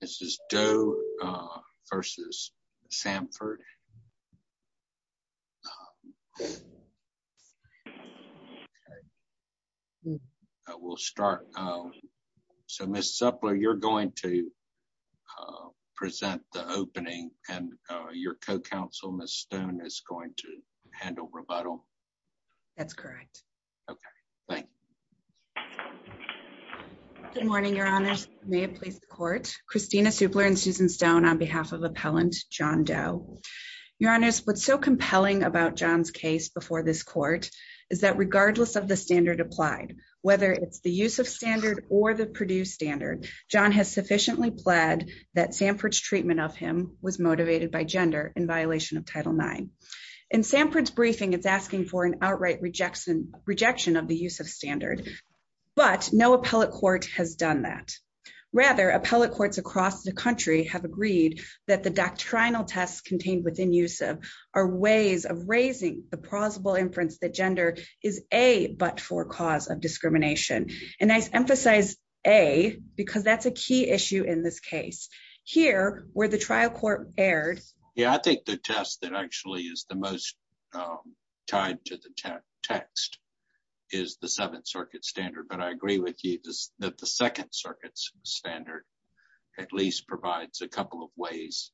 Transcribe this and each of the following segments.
This is Doe v. Samford. We'll start. So, Ms. Zuppler, you're going to present the opening and your co-counsel, Ms. Stone, is going to handle rebuttal. That's correct. Okay, thank you. Good morning, Your Honors. May it please the Court. Christina Zuppler and Susan Stone on behalf of Appellant John Doe. Your Honors, what's so compelling about John's case before this Court is that regardless of the standard applied, whether it's the use of standard or the Purdue standard, John has sufficiently pled that Samford's treatment of him was motivated by gender in violation of Title IX. In Samford's briefing, it's asking for an outright rejection of the use of standard, but no appellate court has done that. Rather, appellate courts across the country have agreed that the doctrinal tests contained within USIV are ways of raising the plausible inference that gender is a but-for cause of discrimination. And I emphasize a because that's a key issue in this case. Here, where the trial court erred… Yeah, I think the test that actually is the most tied to the text is the Seventh Circuit standard, but I agree with you that the Second Circuit standard at least provides a couple of ways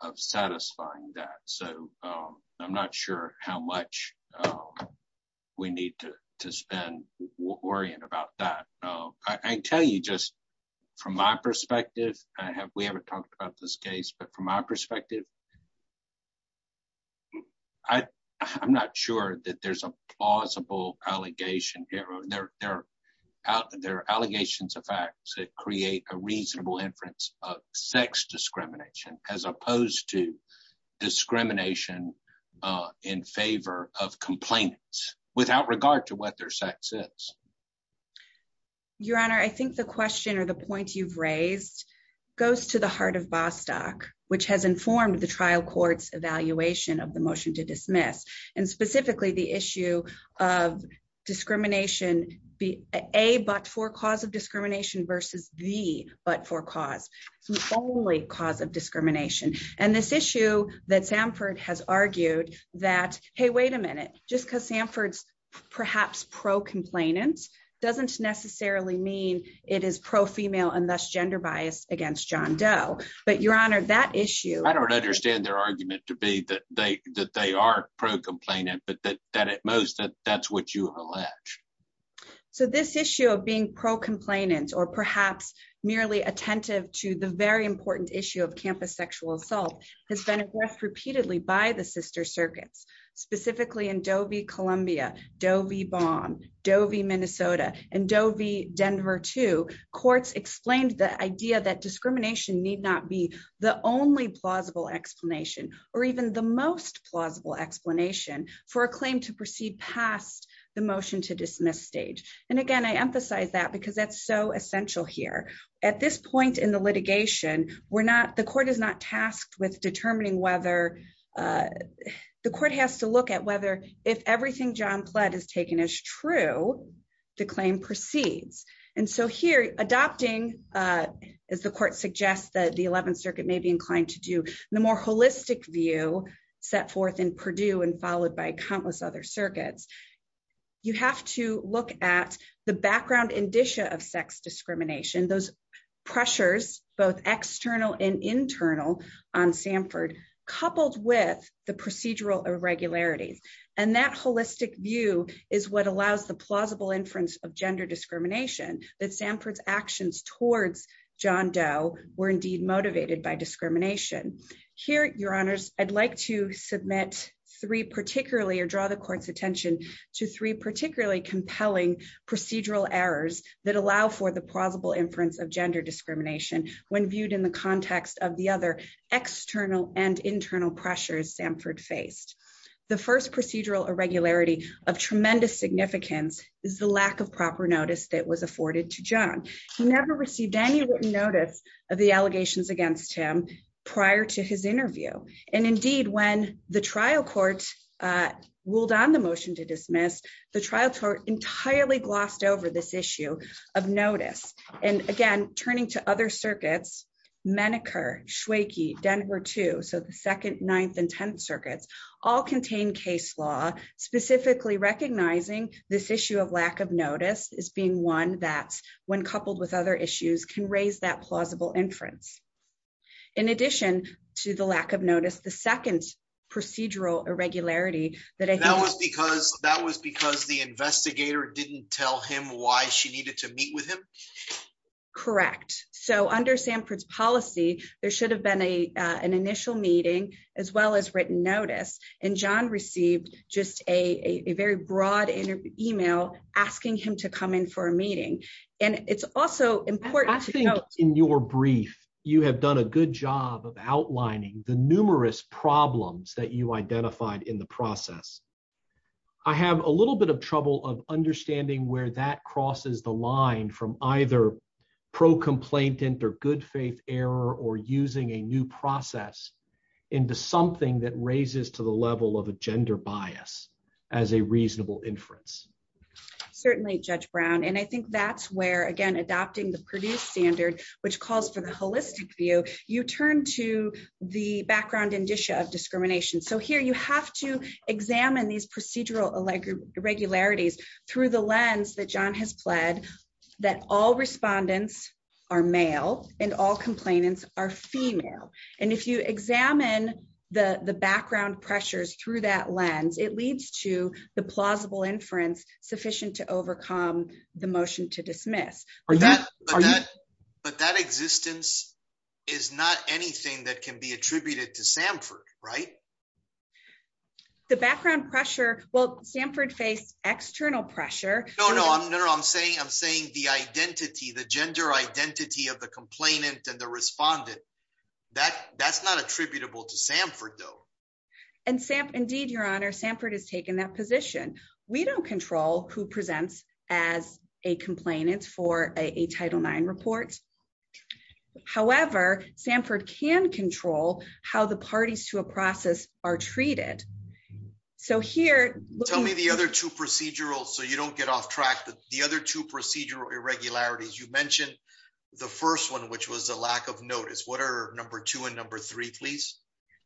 of satisfying that, so I'm not sure how much we need to spend worrying about that. I tell you just from my perspective, we haven't talked about this case, but from my perspective, I'm not sure that there's a plausible allegation. There are allegations of facts that create a reasonable inference of sex discrimination as opposed to discrimination in favor of complainants without regard to what their sex is. Your Honor, I think the question or the point you've raised goes to the heart of Bostock, which has informed the trial court's evaluation of the motion to dismiss, and specifically the issue of discrimination, a but-for cause of discrimination versus the but-for cause. It's the only cause of discrimination, and this issue that Sanford has argued that, hey, wait a minute, just because Sanford's perhaps pro-complainant doesn't necessarily mean it is pro-female and thus gender biased against John Doe, but Your Honor, that issue… I don't understand their argument to be that they are pro-complainant, but that at most, that's what you have alleged. So this issue of being pro-complainant or perhaps merely attentive to the very important issue of campus sexual assault has been addressed repeatedly by the sister circuits, specifically in Doe v. Columbia, Doe v. Baum, Doe v. Minnesota, and Doe v. Denver, too. The courts explained the idea that discrimination need not be the only plausible explanation or even the most plausible explanation for a claim to proceed past the motion to dismiss stage. And again, I emphasize that because that's so essential here. At this point in the litigation, the court is not tasked with determining whether… …the claim proceeds. And so here, adopting, as the court suggests that the 11th Circuit may be inclined to do, the more holistic view set forth in Purdue and followed by countless other circuits, you have to look at the background indicia of sex discrimination, those pressures, both external and internal on Sanford, coupled with the procedural irregularities. And that holistic view is what allows the plausible inference of gender discrimination, that Sanford's actions towards John Doe were indeed motivated by discrimination. Here, your honors, I'd like to submit three particularly or draw the court's attention to three particularly compelling procedural errors that allow for the plausible inference of gender discrimination when viewed in the context of the other external and internal pressures Sanford faced. The first procedural irregularity of tremendous significance is the lack of proper notice that was afforded to John. He never received any written notice of the allegations against him prior to his interview. And indeed, when the trial court ruled on the motion to dismiss, the trial court entirely glossed over this issue of notice. And again, turning to other circuits, Menneker, Schwakey, Denver 2, so the 2nd, 9th, and 10th circuits, all contain case law, specifically recognizing this issue of lack of notice as being one that, when coupled with other issues, can raise that plausible inference. In addition to the lack of notice, the second procedural irregularity that I think... That was because the investigator didn't tell him why she needed to meet with him? Correct. So under Sanford's policy, there should have been an initial meeting, as well as written notice, and John received just a very broad email asking him to come in for a meeting. And it's also important to note... I think in your brief, you have done a good job of outlining the numerous problems that you identified in the process. I have a little bit of trouble of understanding where that crosses the line from either pro-complaintant or good faith error or using a new process into something that raises to the level of a gender bias as a reasonable inference. Certainly, Judge Brown. And I think that's where, again, adopting the Purdue standard, which calls for the holistic view, you turn to the background indicia of discrimination. So here you have to examine these procedural irregularities through the lens that John has pled that all respondents are male and all complainants are female. And if you examine the background pressures through that lens, it leads to the plausible inference sufficient to overcome the motion to dismiss. But that existence is not anything that can be attributed to Sanford, right? The background pressure... Well, Sanford faced external pressure. No, no. I'm saying the identity, the gender identity of the complainant and the respondent. That's not attributable to Sanford, though. Indeed, Your Honor, Sanford has taken that position. We don't control who presents as a complainant for a Title IX report. However, Sanford can control how the parties to a process are treated. Tell me the other two procedural, so you don't get off track, the other two procedural irregularities. You mentioned the first one, which was the lack of notice. What are number two and number three, please?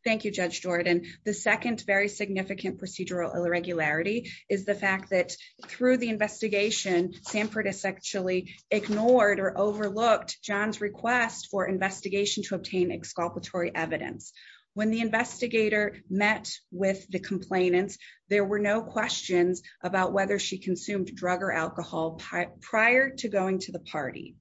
Thank you, Judge Jordan. The second very significant procedural irregularity is the fact that through the investigation, Sanford has actually ignored or overlooked John's request for investigation to obtain exculpatory evidence. When the investigator met with the complainants, there were no questions about whether she consumed drug or alcohol prior to going to the party.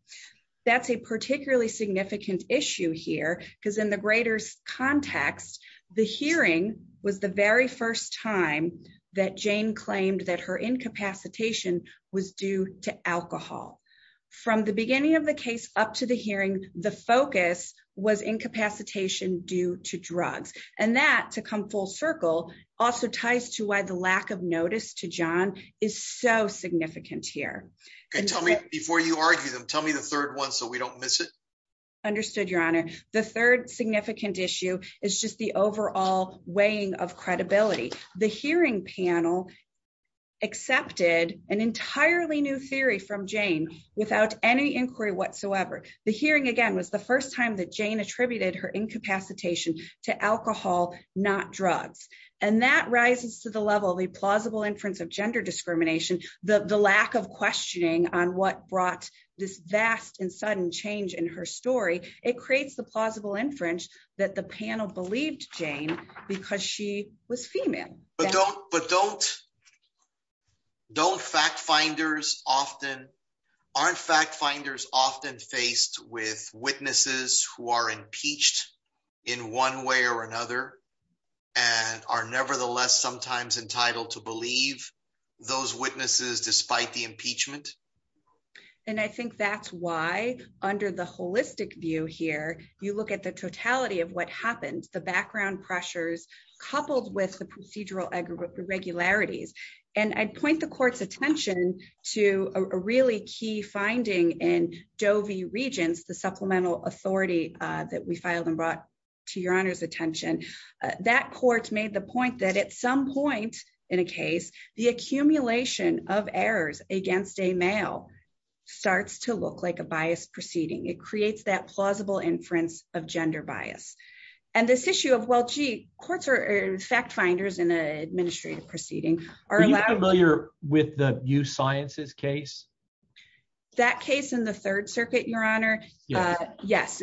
That's a particularly significant issue here, because in the greater context, the hearing was the very first time that Jane claimed that her incapacitation was due to alcohol. From the beginning of the case up to the hearing, the focus was incapacitation due to drugs. And that, to come full circle, also ties to why the lack of notice to John is so significant here. Before you argue them, tell me the third one so we don't miss it. Understood, Your Honor. The third significant issue is just the overall weighing of credibility. The hearing panel accepted an entirely new theory from Jane without any inquiry whatsoever. The hearing, again, was the first time that Jane attributed her incapacitation to alcohol, not drugs. And that rises to the level of the plausible inference of gender discrimination, the lack of questioning on what brought this vast and sudden change in her story. It creates the plausible inference that the panel believed Jane because she was female. But aren't fact-finders often faced with witnesses who are impeached in one way or another and are nevertheless sometimes entitled to believe those witnesses despite the impeachment? And I think that's why, under the holistic view here, you look at the totality of what happened, the background pressures, coupled with the procedural irregularities. And I'd point the court's attention to a really key finding in Doe v. Regents, the supplemental authority that we filed and brought to Your Honor's attention. That court made the point that at some point in a case, the accumulation of errors against a male starts to look like a biased proceeding. It creates that plausible inference of gender bias. And this issue of, well, gee, courts are fact-finders in an administrative proceeding. Are you familiar with the Youth Sciences case? That case in the Third Circuit, Your Honor? Yes.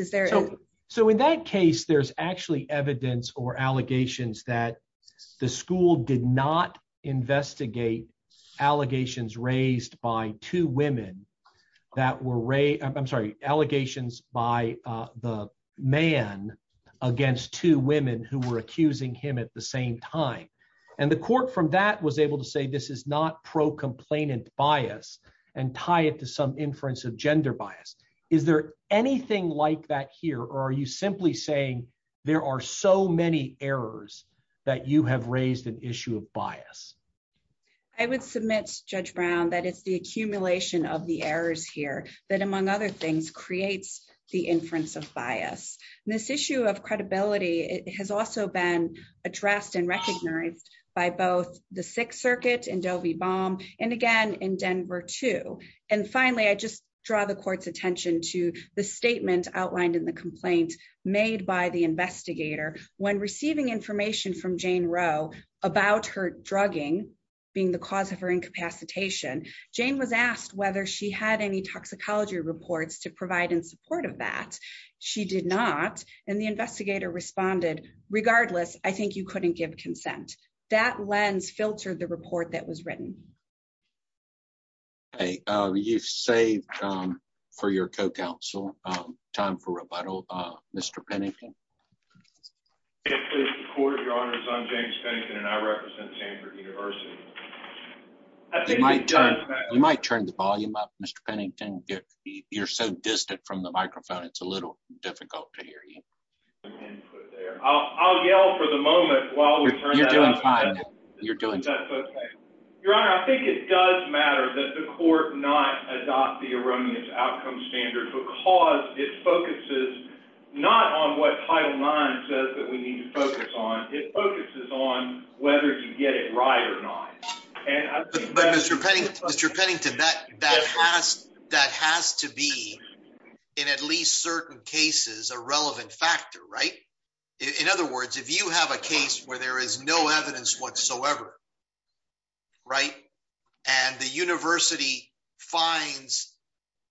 So in that case, there's actually evidence or allegations that the school did not investigate allegations raised by two women. I'm sorry, allegations by the man against two women who were accusing him at the same time. And the court from that was able to say this is not pro-complainant bias and tie it to some inference of gender bias. Is there anything like that here, or are you simply saying there are so many errors that you have raised an issue of bias? I would submit, Judge Brown, that it's the accumulation of the errors here that, among other things, creates the inference of bias. This issue of credibility has also been addressed and recognized by both the Sixth Circuit and Doe v. Baum, and again in Denver, too. And finally, I just draw the court's attention to the statement outlined in the complaint made by the investigator. When receiving information from Jane Roe about her drugging being the cause of her incapacitation, Jane was asked whether she had any toxicology reports to provide in support of that. She did not, and the investigator responded, regardless, I think you couldn't give consent. That lens filtered the report that was written. Okay, you've saved for your co-counsel. Time for rebuttal. Mr. Pennington? It is the court of your honors. I'm James Pennington, and I represent Stanford University. You might turn the volume up, Mr. Pennington. You're so distant from the microphone, it's a little difficult to hear you. I'll yell for the moment while we turn that up. You're doing fine. Your Honor, I think it does matter that the court not adopt the erroneous outcome standard because it focuses not on what Title IX says that we need to focus on, it focuses on whether you get it right or not. But Mr. Pennington, that has to be, in at least certain cases, a relevant factor, right? In other words, if you have a case where there is no evidence whatsoever, right, and the university finds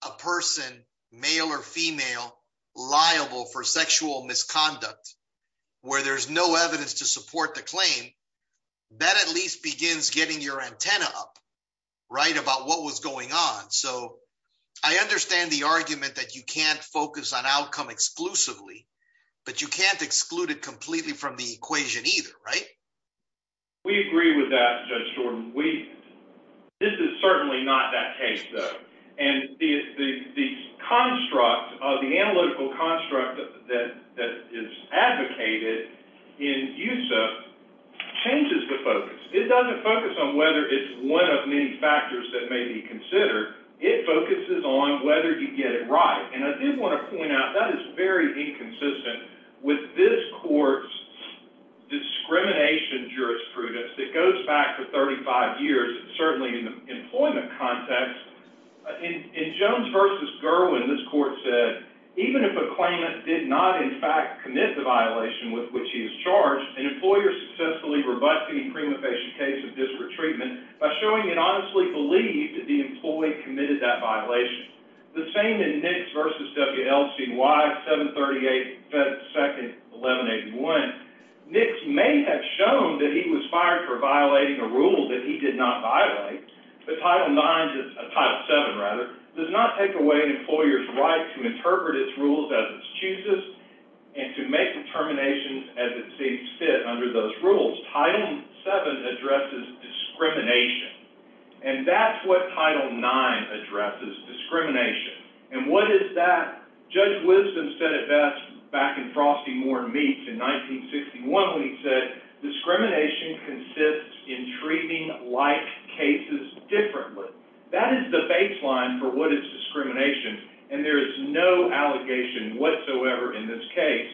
a person, male or female, liable for sexual misconduct, where there's no evidence to support the claim, that at least begins getting your antenna up, right, about what was going on. So I understand the argument that you can't focus on outcome exclusively, but you can't exclude it completely from the equation either, right? We agree with that, Judge Jordan. This is certainly not that case, though. And the construct, the analytical construct that is advocated in USIP changes the focus. It doesn't focus on whether it's one of many factors that may be considered. It focuses on whether you get it right. And I did want to point out, that is very inconsistent with this court's discrimination jurisprudence that goes back to 35 years, certainly in the employment context. In Jones v. Gerwin, this court said, even if a claimant did not in fact commit the violation with which he is charged, an employer successfully rebuts the imprima facie case of disparate treatment by showing it honestly believed that the employee committed that violation. The same in Nix v. WLCY 738-2-1181. Nix may have shown that he was fired for violating a rule that he did not violate, but Title VII does not take away an employer's right to interpret its rules as it chooses and to make determinations as it sees fit under those rules. Title VII addresses discrimination, and that's what Title IX addresses, discrimination. And what is that? Judge Wisdom said it best back in Frosty Moore Meats in 1961 when he said, discrimination consists in treating like cases differently. That is the baseline for what is discrimination, and there is no allegation whatsoever in this case.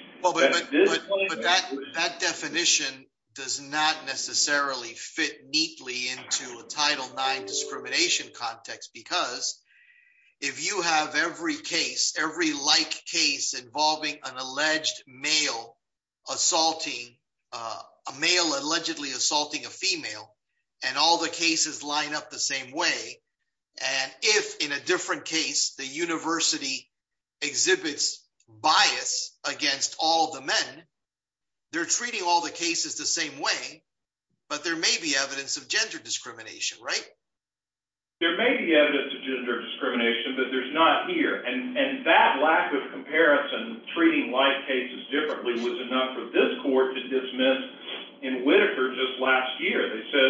And if, in a different case, the university exhibits bias against all the men, they're treating all the cases the same way, but there may be evidence of gender discrimination, right? There may be evidence of gender discrimination, but there's not here. And that lack of comparison, treating like cases differently, was enough for this court to dismiss in Whitaker just last year. They said,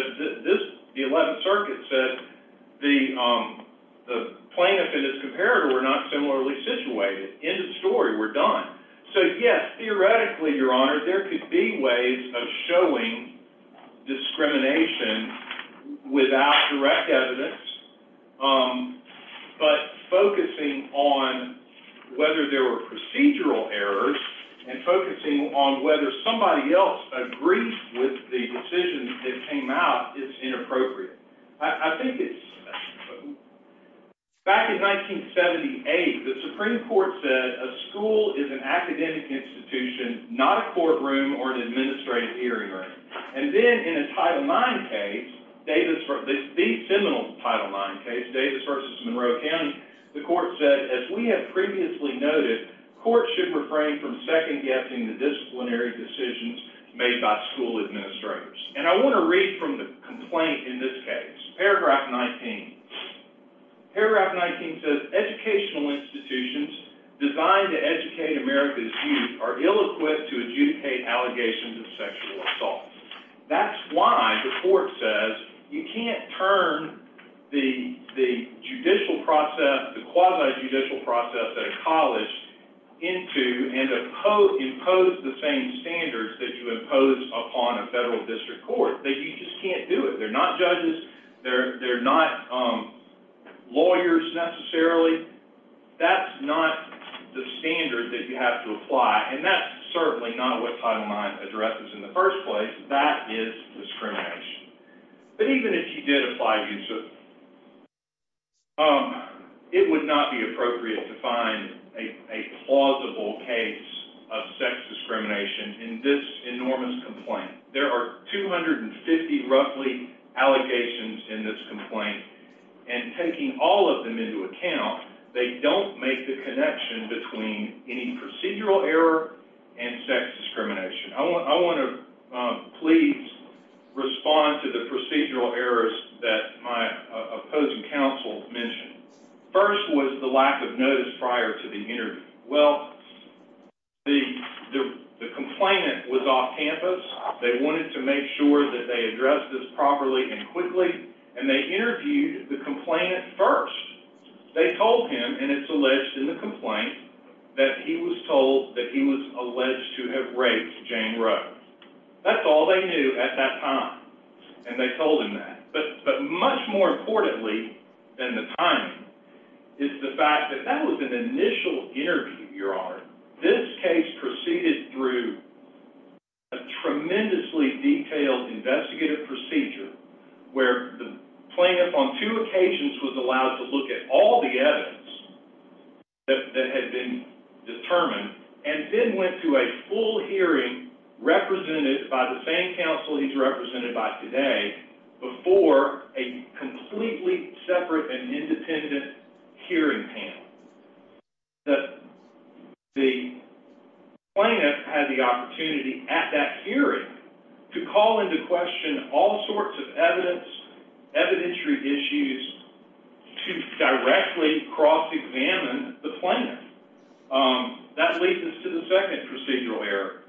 the Eleventh Circuit said the plaintiff and his comparator were not similarly situated. End of story. We're done. So, yes, theoretically, Your Honor, there could be ways of showing discrimination without direct evidence, but focusing on whether there were procedural errors and focusing on whether somebody else agreed with the decision that came out is inappropriate. I think it's... Back in 1978, the Supreme Court said a school is an academic institution, not a courtroom or an administrative hearing room. And then in a Title IX case, the seminal Title IX case, Davis v. Monroe-Hammond, the court said, as we have previously noted, courts should refrain from second-guessing the disciplinary decisions made by school administrators. And I want to read from the complaint in this case. Paragraph 19. Paragraph 19 says, educational institutions designed to educate America's youth are ill-equipped to adjudicate allegations of sexual assault. That's why the court says you can't turn the judicial process, the quasi-judicial process at a college, into and impose the same standards that you impose upon a federal district court. You just can't do it. They're not judges. They're not lawyers, necessarily. That's not the standard that you have to apply. And that's certainly not what Title IX addresses in the first place. That is discrimination. But even if you did apply, it would not be appropriate to find a plausible case of sex discrimination in this enormous complaint. There are 250, roughly, allegations in this complaint. And taking all of them into account, they don't make the connection between any procedural error and sex discrimination. I want to please respond to the procedural errors that my opposing counsel mentioned. First was the lack of notice prior to the interview. Well, the complainant was off campus. They wanted to make sure that they addressed this properly and quickly. And they interviewed the complainant first. They told him, and it's alleged in the complaint, that he was told that he was alleged to have raped Jane Rose. That's all they knew at that time. And they told him that. But much more importantly than the timing is the fact that that was an initial interview, Your Honor. This case proceeded through a tremendously detailed investigative procedure where the plaintiff on two occasions was allowed to look at all the evidence that had been determined and then went to a full hearing represented by the same counsel he's represented by today before a completely separate and independent hearing panel. The plaintiff had the opportunity at that hearing to call into question all sorts of evidence, evidentiary issues, to directly cross-examine the plaintiff. That leads us to the second procedural error.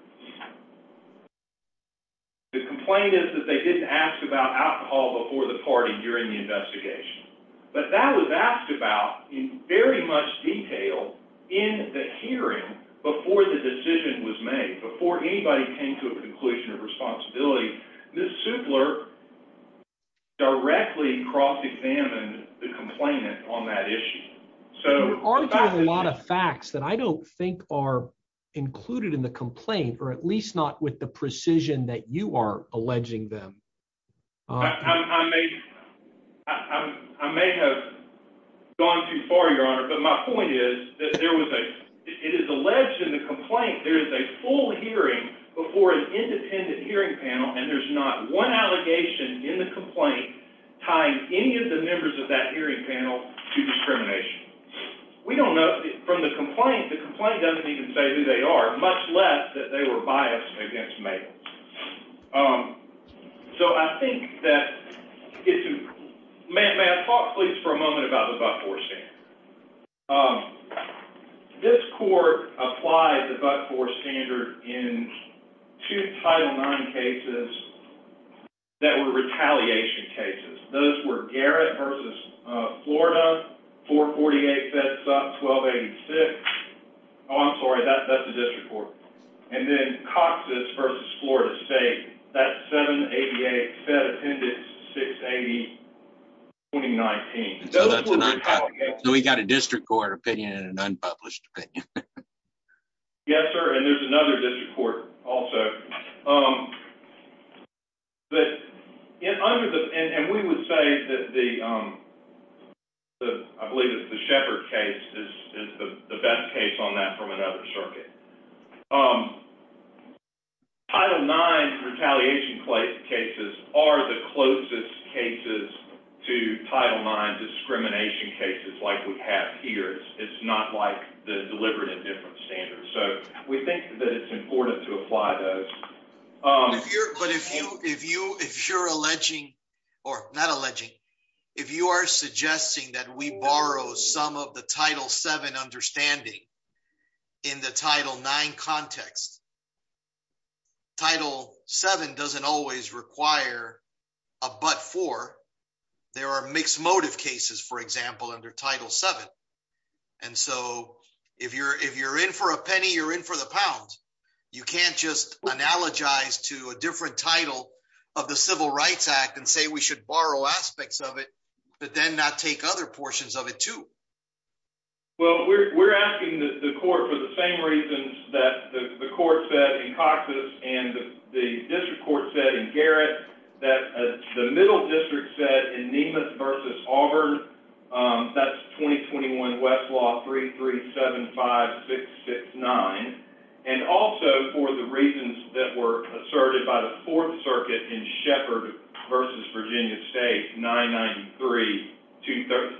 The complaint is that they didn't ask about alcohol before the party during the investigation. But that was asked about in very much detail in the hearing before the decision was made, before anybody came to a conclusion of responsibility. Ms. Supler directly cross-examined the complainant on that issue. You're arguing a lot of facts that I don't think are included in the complaint, or at least not with the precision that you are alleging them. I may have gone too far, Your Honor, but my point is that it is alleged in the complaint there is a full hearing before an independent hearing panel and there's not one allegation in the complaint tying any of the members of that hearing panel to discrimination. From the complaint, the complaint doesn't even say who they are, much less that they were biased against Mabel. May I talk, please, for a moment about the But-For standard? This court applied the But-For standard in two Title IX cases that were retaliation cases. Those were Garrett v. Florida, 448 feds up, 1286. Oh, I'm sorry, that's the district court. And then Cox's v. Florida State, that's 788 fed appendix 680, 2019. So we've got a district court opinion and an unpublished opinion. Yes, sir, and there's another district court also. And we would say that I believe it's the Shepard case is the best case on that from another circuit. Title IX retaliation cases are the closest cases to Title IX discrimination cases like we have here. It's not like the deliberate indifference standards. So we think that it's important to apply those. But if you're alleging, or not alleging, if you are suggesting that we borrow some of the Title VII understanding in the Title IX context, Title VII doesn't always require a But-For. There are mixed motive cases, for example, under Title VII. And so if you're in for a penny, you're in for the pounds. You can't just analogize to a different title of the Civil Rights Act and say we should borrow aspects of it, but then not take other portions of it too. Well, we're asking the court for the same reasons that the court said in Cox's and the district court said in Garrett, that the middle district said in Nemeth v. Auburn, that's 2021 Westlaw 3375669. And also for the reasons that were asserted by the Fourth Circuit in Shepard v. Virginia State 993-230,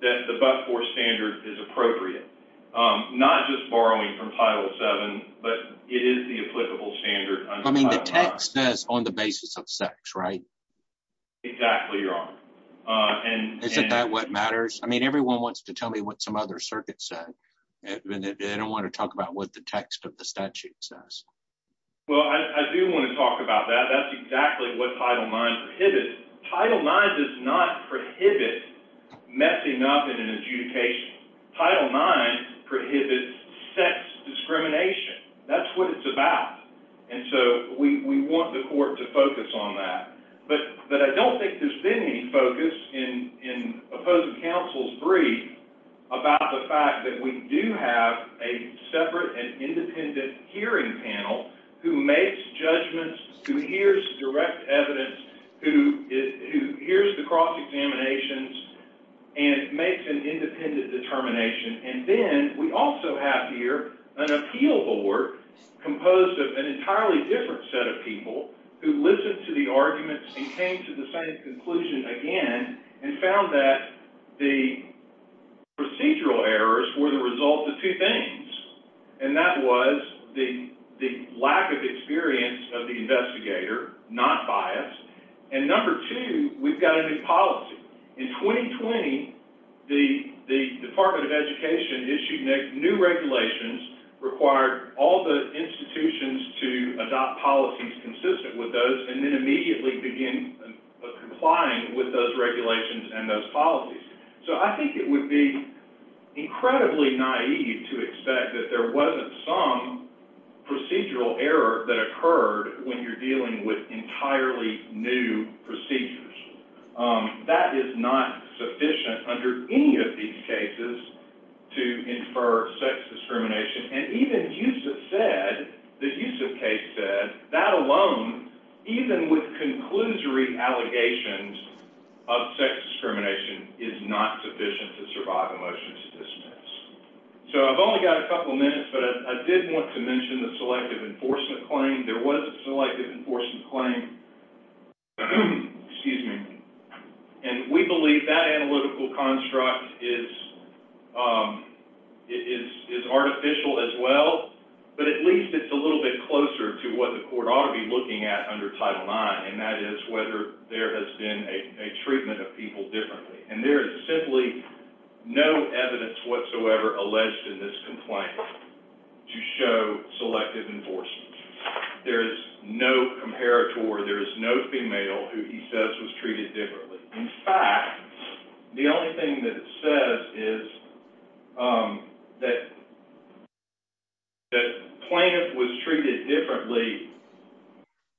that the But-For standard is appropriate. Not just borrowing from Title VII, but it is the applicable standard under Title IX. I mean, the text says on the basis of sex, right? Exactly, Your Honor. Isn't that what matters? I mean, everyone wants to tell me what some other circuits say. They don't want to talk about what the text of the statute says. Well, I do want to talk about that. That's exactly what Title IX prohibits. Title IX does not prohibit messing up in an adjudication. Title IX prohibits sex discrimination. That's what it's about. And so we want the court to focus on that. But I don't think there's been any focus in opposing counsel's brief about the fact that we do have a separate and independent hearing panel who makes judgments, who hears direct evidence, who hears the cross-examinations, and makes an independent determination. And then we also have here an appeal board composed of an entirely different set of people who listened to the arguments and came to the same conclusion again and found that the procedural errors were the result of two things. And that was the lack of experience of the investigator, not bias. And number two, we've got a new policy. In 2020, the Department of Education issued new regulations, required all the institutions to adopt policies consistent with those, and then immediately begin complying with those regulations and those policies. So I think it would be incredibly naive to expect that there wasn't some procedural error that occurred when you're dealing with entirely new procedures. That is not sufficient under any of these cases to infer sex discrimination. And even Yusuf said, the Yusuf case said, that alone, even with conclusory allegations of sex discrimination, is not sufficient to survive a motion to dismiss. So I've only got a couple minutes, but I did want to mention the selective enforcement claim. There was a selective enforcement claim, and we believe that analytical construct is artificial as well, but at least it's a little bit closer to what the court ought to be looking at under Title IX, and that is whether there has been a treatment of people differently. And there is simply no evidence whatsoever alleged in this complaint to show selective enforcement. There is no comparator. There is no female who he says was treated differently. In fact, the only thing that it says is that plaintiff was treated differently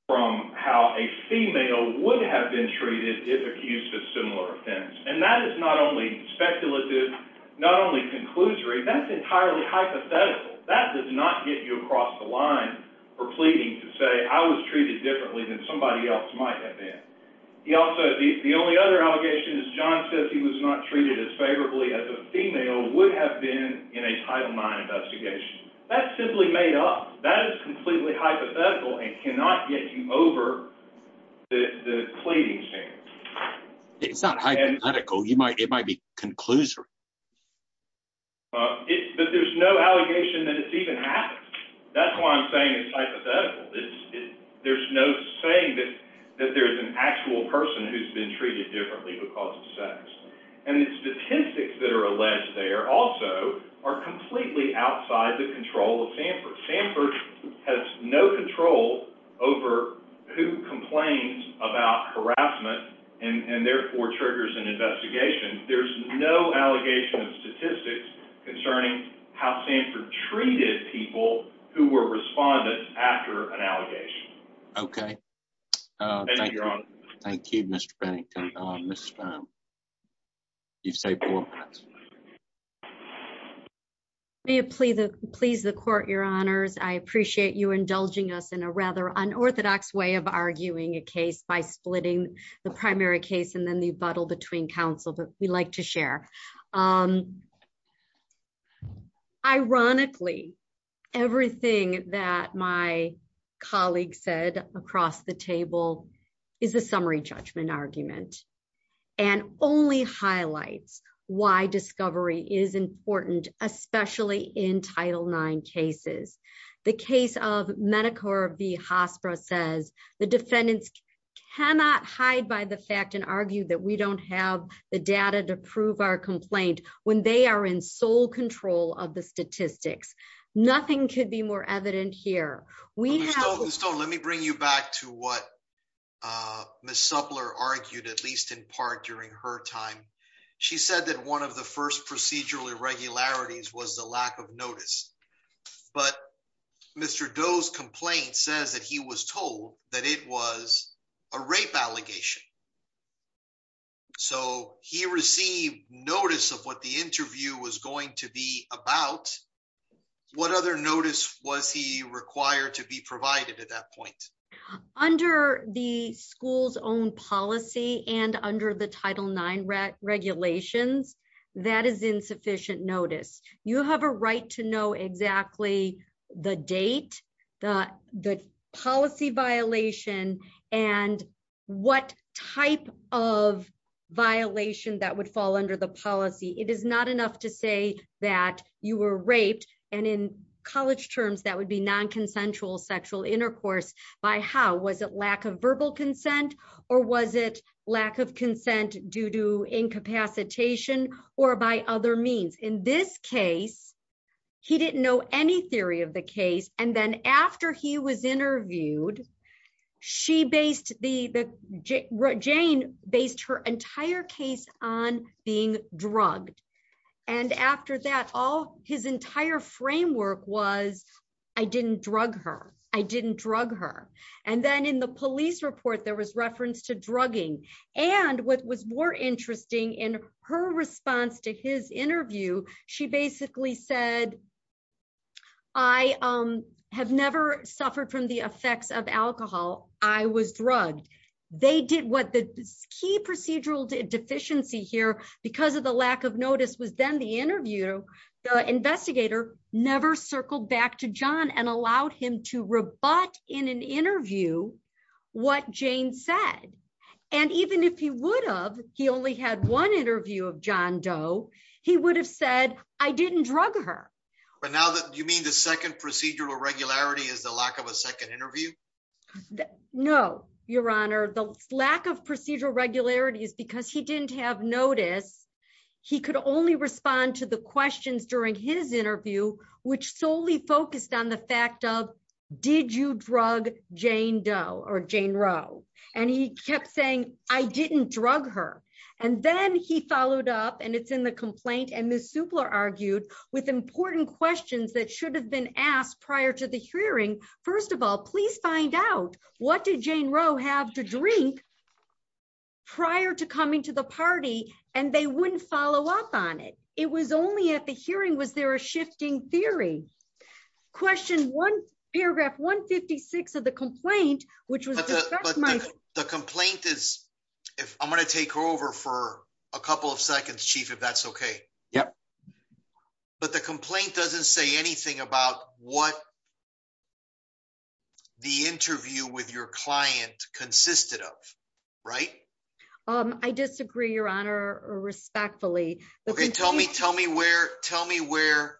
from how a female would have been treated if accused of similar offense. And that is not only speculative, not only conclusory, that's entirely hypothetical. That does not get you across the line for pleading to say, I was treated differently than somebody else might have been. The only other allegation is John says he was not treated as favorably as a female would have been in a Title IX investigation. That's simply made up. That is completely hypothetical and cannot get you over the pleading stand. It's not hypothetical. It might be conclusory. But there's no allegation that it's even happened. That's why I'm saying it's hypothetical. There's no saying that there's an actual person who's been treated differently because of sex. And the statistics that are alleged there also are completely outside the control of Sanford. Sanford has no control over who complains about harassment and therefore triggers an investigation. There's no allegation of statistics concerning how Sanford treated people who were respondents after an allegation. Okay. Thank you, Mr. Bennington. You've saved four minutes. May it please the court, your honors. I appreciate you indulging us in a rather unorthodox way of arguing a case by splitting the primary case and then the abuttal between counsel, but we like to share. Ironically, everything that my colleague said across the table is a summary judgment argument and only highlights why discovery is important, especially in Title IX cases. The case of Medicare v. Hospra says the defendants cannot hide by the fact and argue that we don't have the data to prove our complaint when they are in sole control of the statistics. Nothing could be more evident here. Let me bring you back to what Ms. Suppler argued, at least in part during her time. She said that one of the first procedural irregularities was the lack of notice. But Mr. Doe's complaint says that he was told that it was a rape allegation. So he received notice of what the interview was going to be about. What other notice was he required to be provided at that point? Under the school's own policy and under the Title IX regulations, that is insufficient notice. You have a right to know exactly the date, the policy violation, and what type of violation that would fall under the policy. It is not enough to say that you were raped, and in college terms that would be non-consensual sexual intercourse. By how? Was it lack of verbal consent or was it lack of consent due to incapacitation or by other means? In this case, he didn't know any theory of the case, and then after he was interviewed, Jane based her entire case on being drugged. And after that, his entire framework was, I didn't drug her. I didn't drug her. And then in the police report, there was reference to drugging. And what was more interesting in her response to his interview, she basically said, I have never suffered from the effects of alcohol. I was drugged. They did what the key procedural deficiency here because of the lack of notice was then the interview, the investigator never circled back to John and allowed him to rebut in an interview what Jane said. And even if he would have, he only had one interview of John Doe, he would have said, I didn't drug her. But now that you mean the second procedural irregularity is the lack of a second interview? No, Your Honor, the lack of procedural regularity is because he didn't have notice. He could only respond to the questions during his interview, which solely focused on the fact of, did you drug Jane Doe or Jane Roe? And he kept saying, I didn't drug her. And then he followed up and it's in the complaint and Ms. Supler argued with important questions that should have been asked prior to the hearing. First of all, please find out what did Jane Roe have to drink prior to coming to the party, and they wouldn't follow up on it. It was only at the hearing was there a shifting theory. Question one, paragraph 156 of the complaint, which was the complaint is if I'm going to take over for a couple of seconds, Chief, if that's okay. Yep. But the complaint doesn't say anything about what the interview with your client consisted of. Right. I disagree, Your Honor, respectfully. Okay, tell me, tell me where, tell me where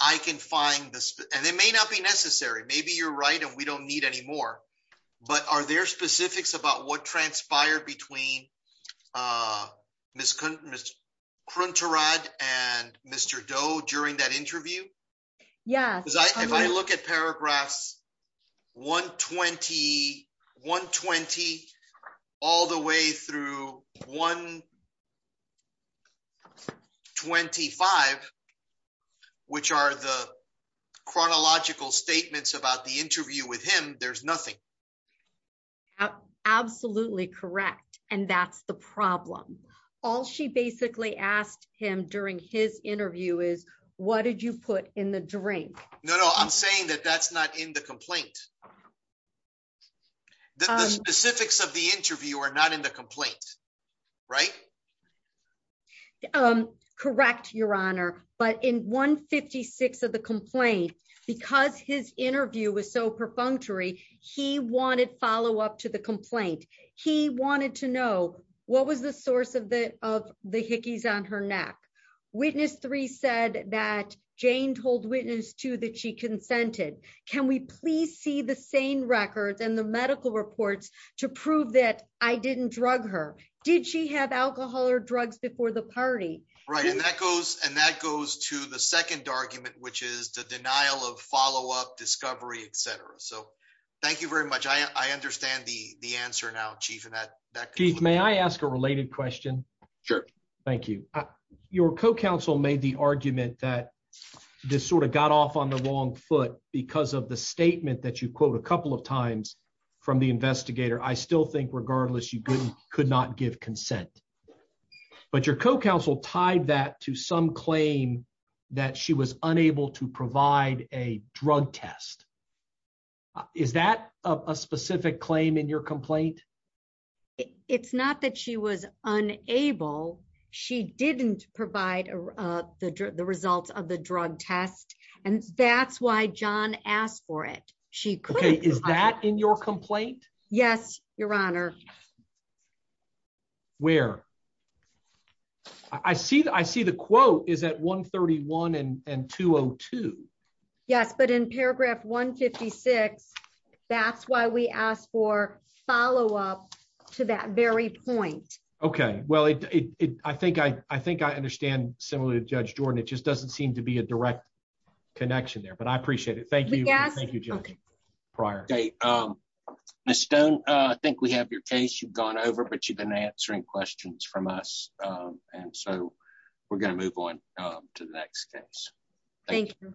I can find this, and it may not be necessary. Maybe you're right and we don't need any more. But are there specifics about what transpired between Ms. Crunterrod and Mr. Doe during that interview? Yes. If I look at paragraphs 120, 120, all the way through 125, which are the chronological statements about the interview with him, there's nothing. Absolutely correct. And that's the problem. All she basically asked him during his interview is, what did you put in the drink. No, no, I'm saying that that's not in the complaint. The specifics of the interview are not in the complaint. Right. Correct, Your Honor, but in 156 of the complaint, because his interview was so perfunctory, he wanted follow up to the complaint. He wanted to know what was the source of the, of the hickeys on her neck. Witness three said that Jane told witness to that she consented. Can we please see the same records and the medical reports to prove that I didn't drug her. Did she have alcohol or drugs before the party. Right, and that goes, and that goes to the second argument, which is the denial of follow up discovery, etc. So, thank you very much. I understand the, the answer now chief and that that. Chief May I ask a related question. Sure. Thank you. Your co counsel made the argument that this sort of got off on the wrong foot, because of the statement that you quote a couple of times from the investigator I still think regardless you couldn't could not give consent. But your co counsel tied that to some claim that she was unable to provide a drug test. Is that a specific claim in your complaint. It's not that she was unable. She didn't provide the results of the drug test. And that's why john asked for it. She is that in your complaint. Yes, Your Honor. Where I see that I see the quote is that 131 and 202. Yes, but in paragraph 156. That's why we asked for follow up to that very point. Okay, well it. I think I, I think I understand, similar to Judge Jordan it just doesn't seem to be a direct connection there but I appreciate it. Thank you. Thank you. Prior date. Miss stone. I think we have your case you've gone over but you've been answering questions from us. And so we're going to move on to the next case. Thank you.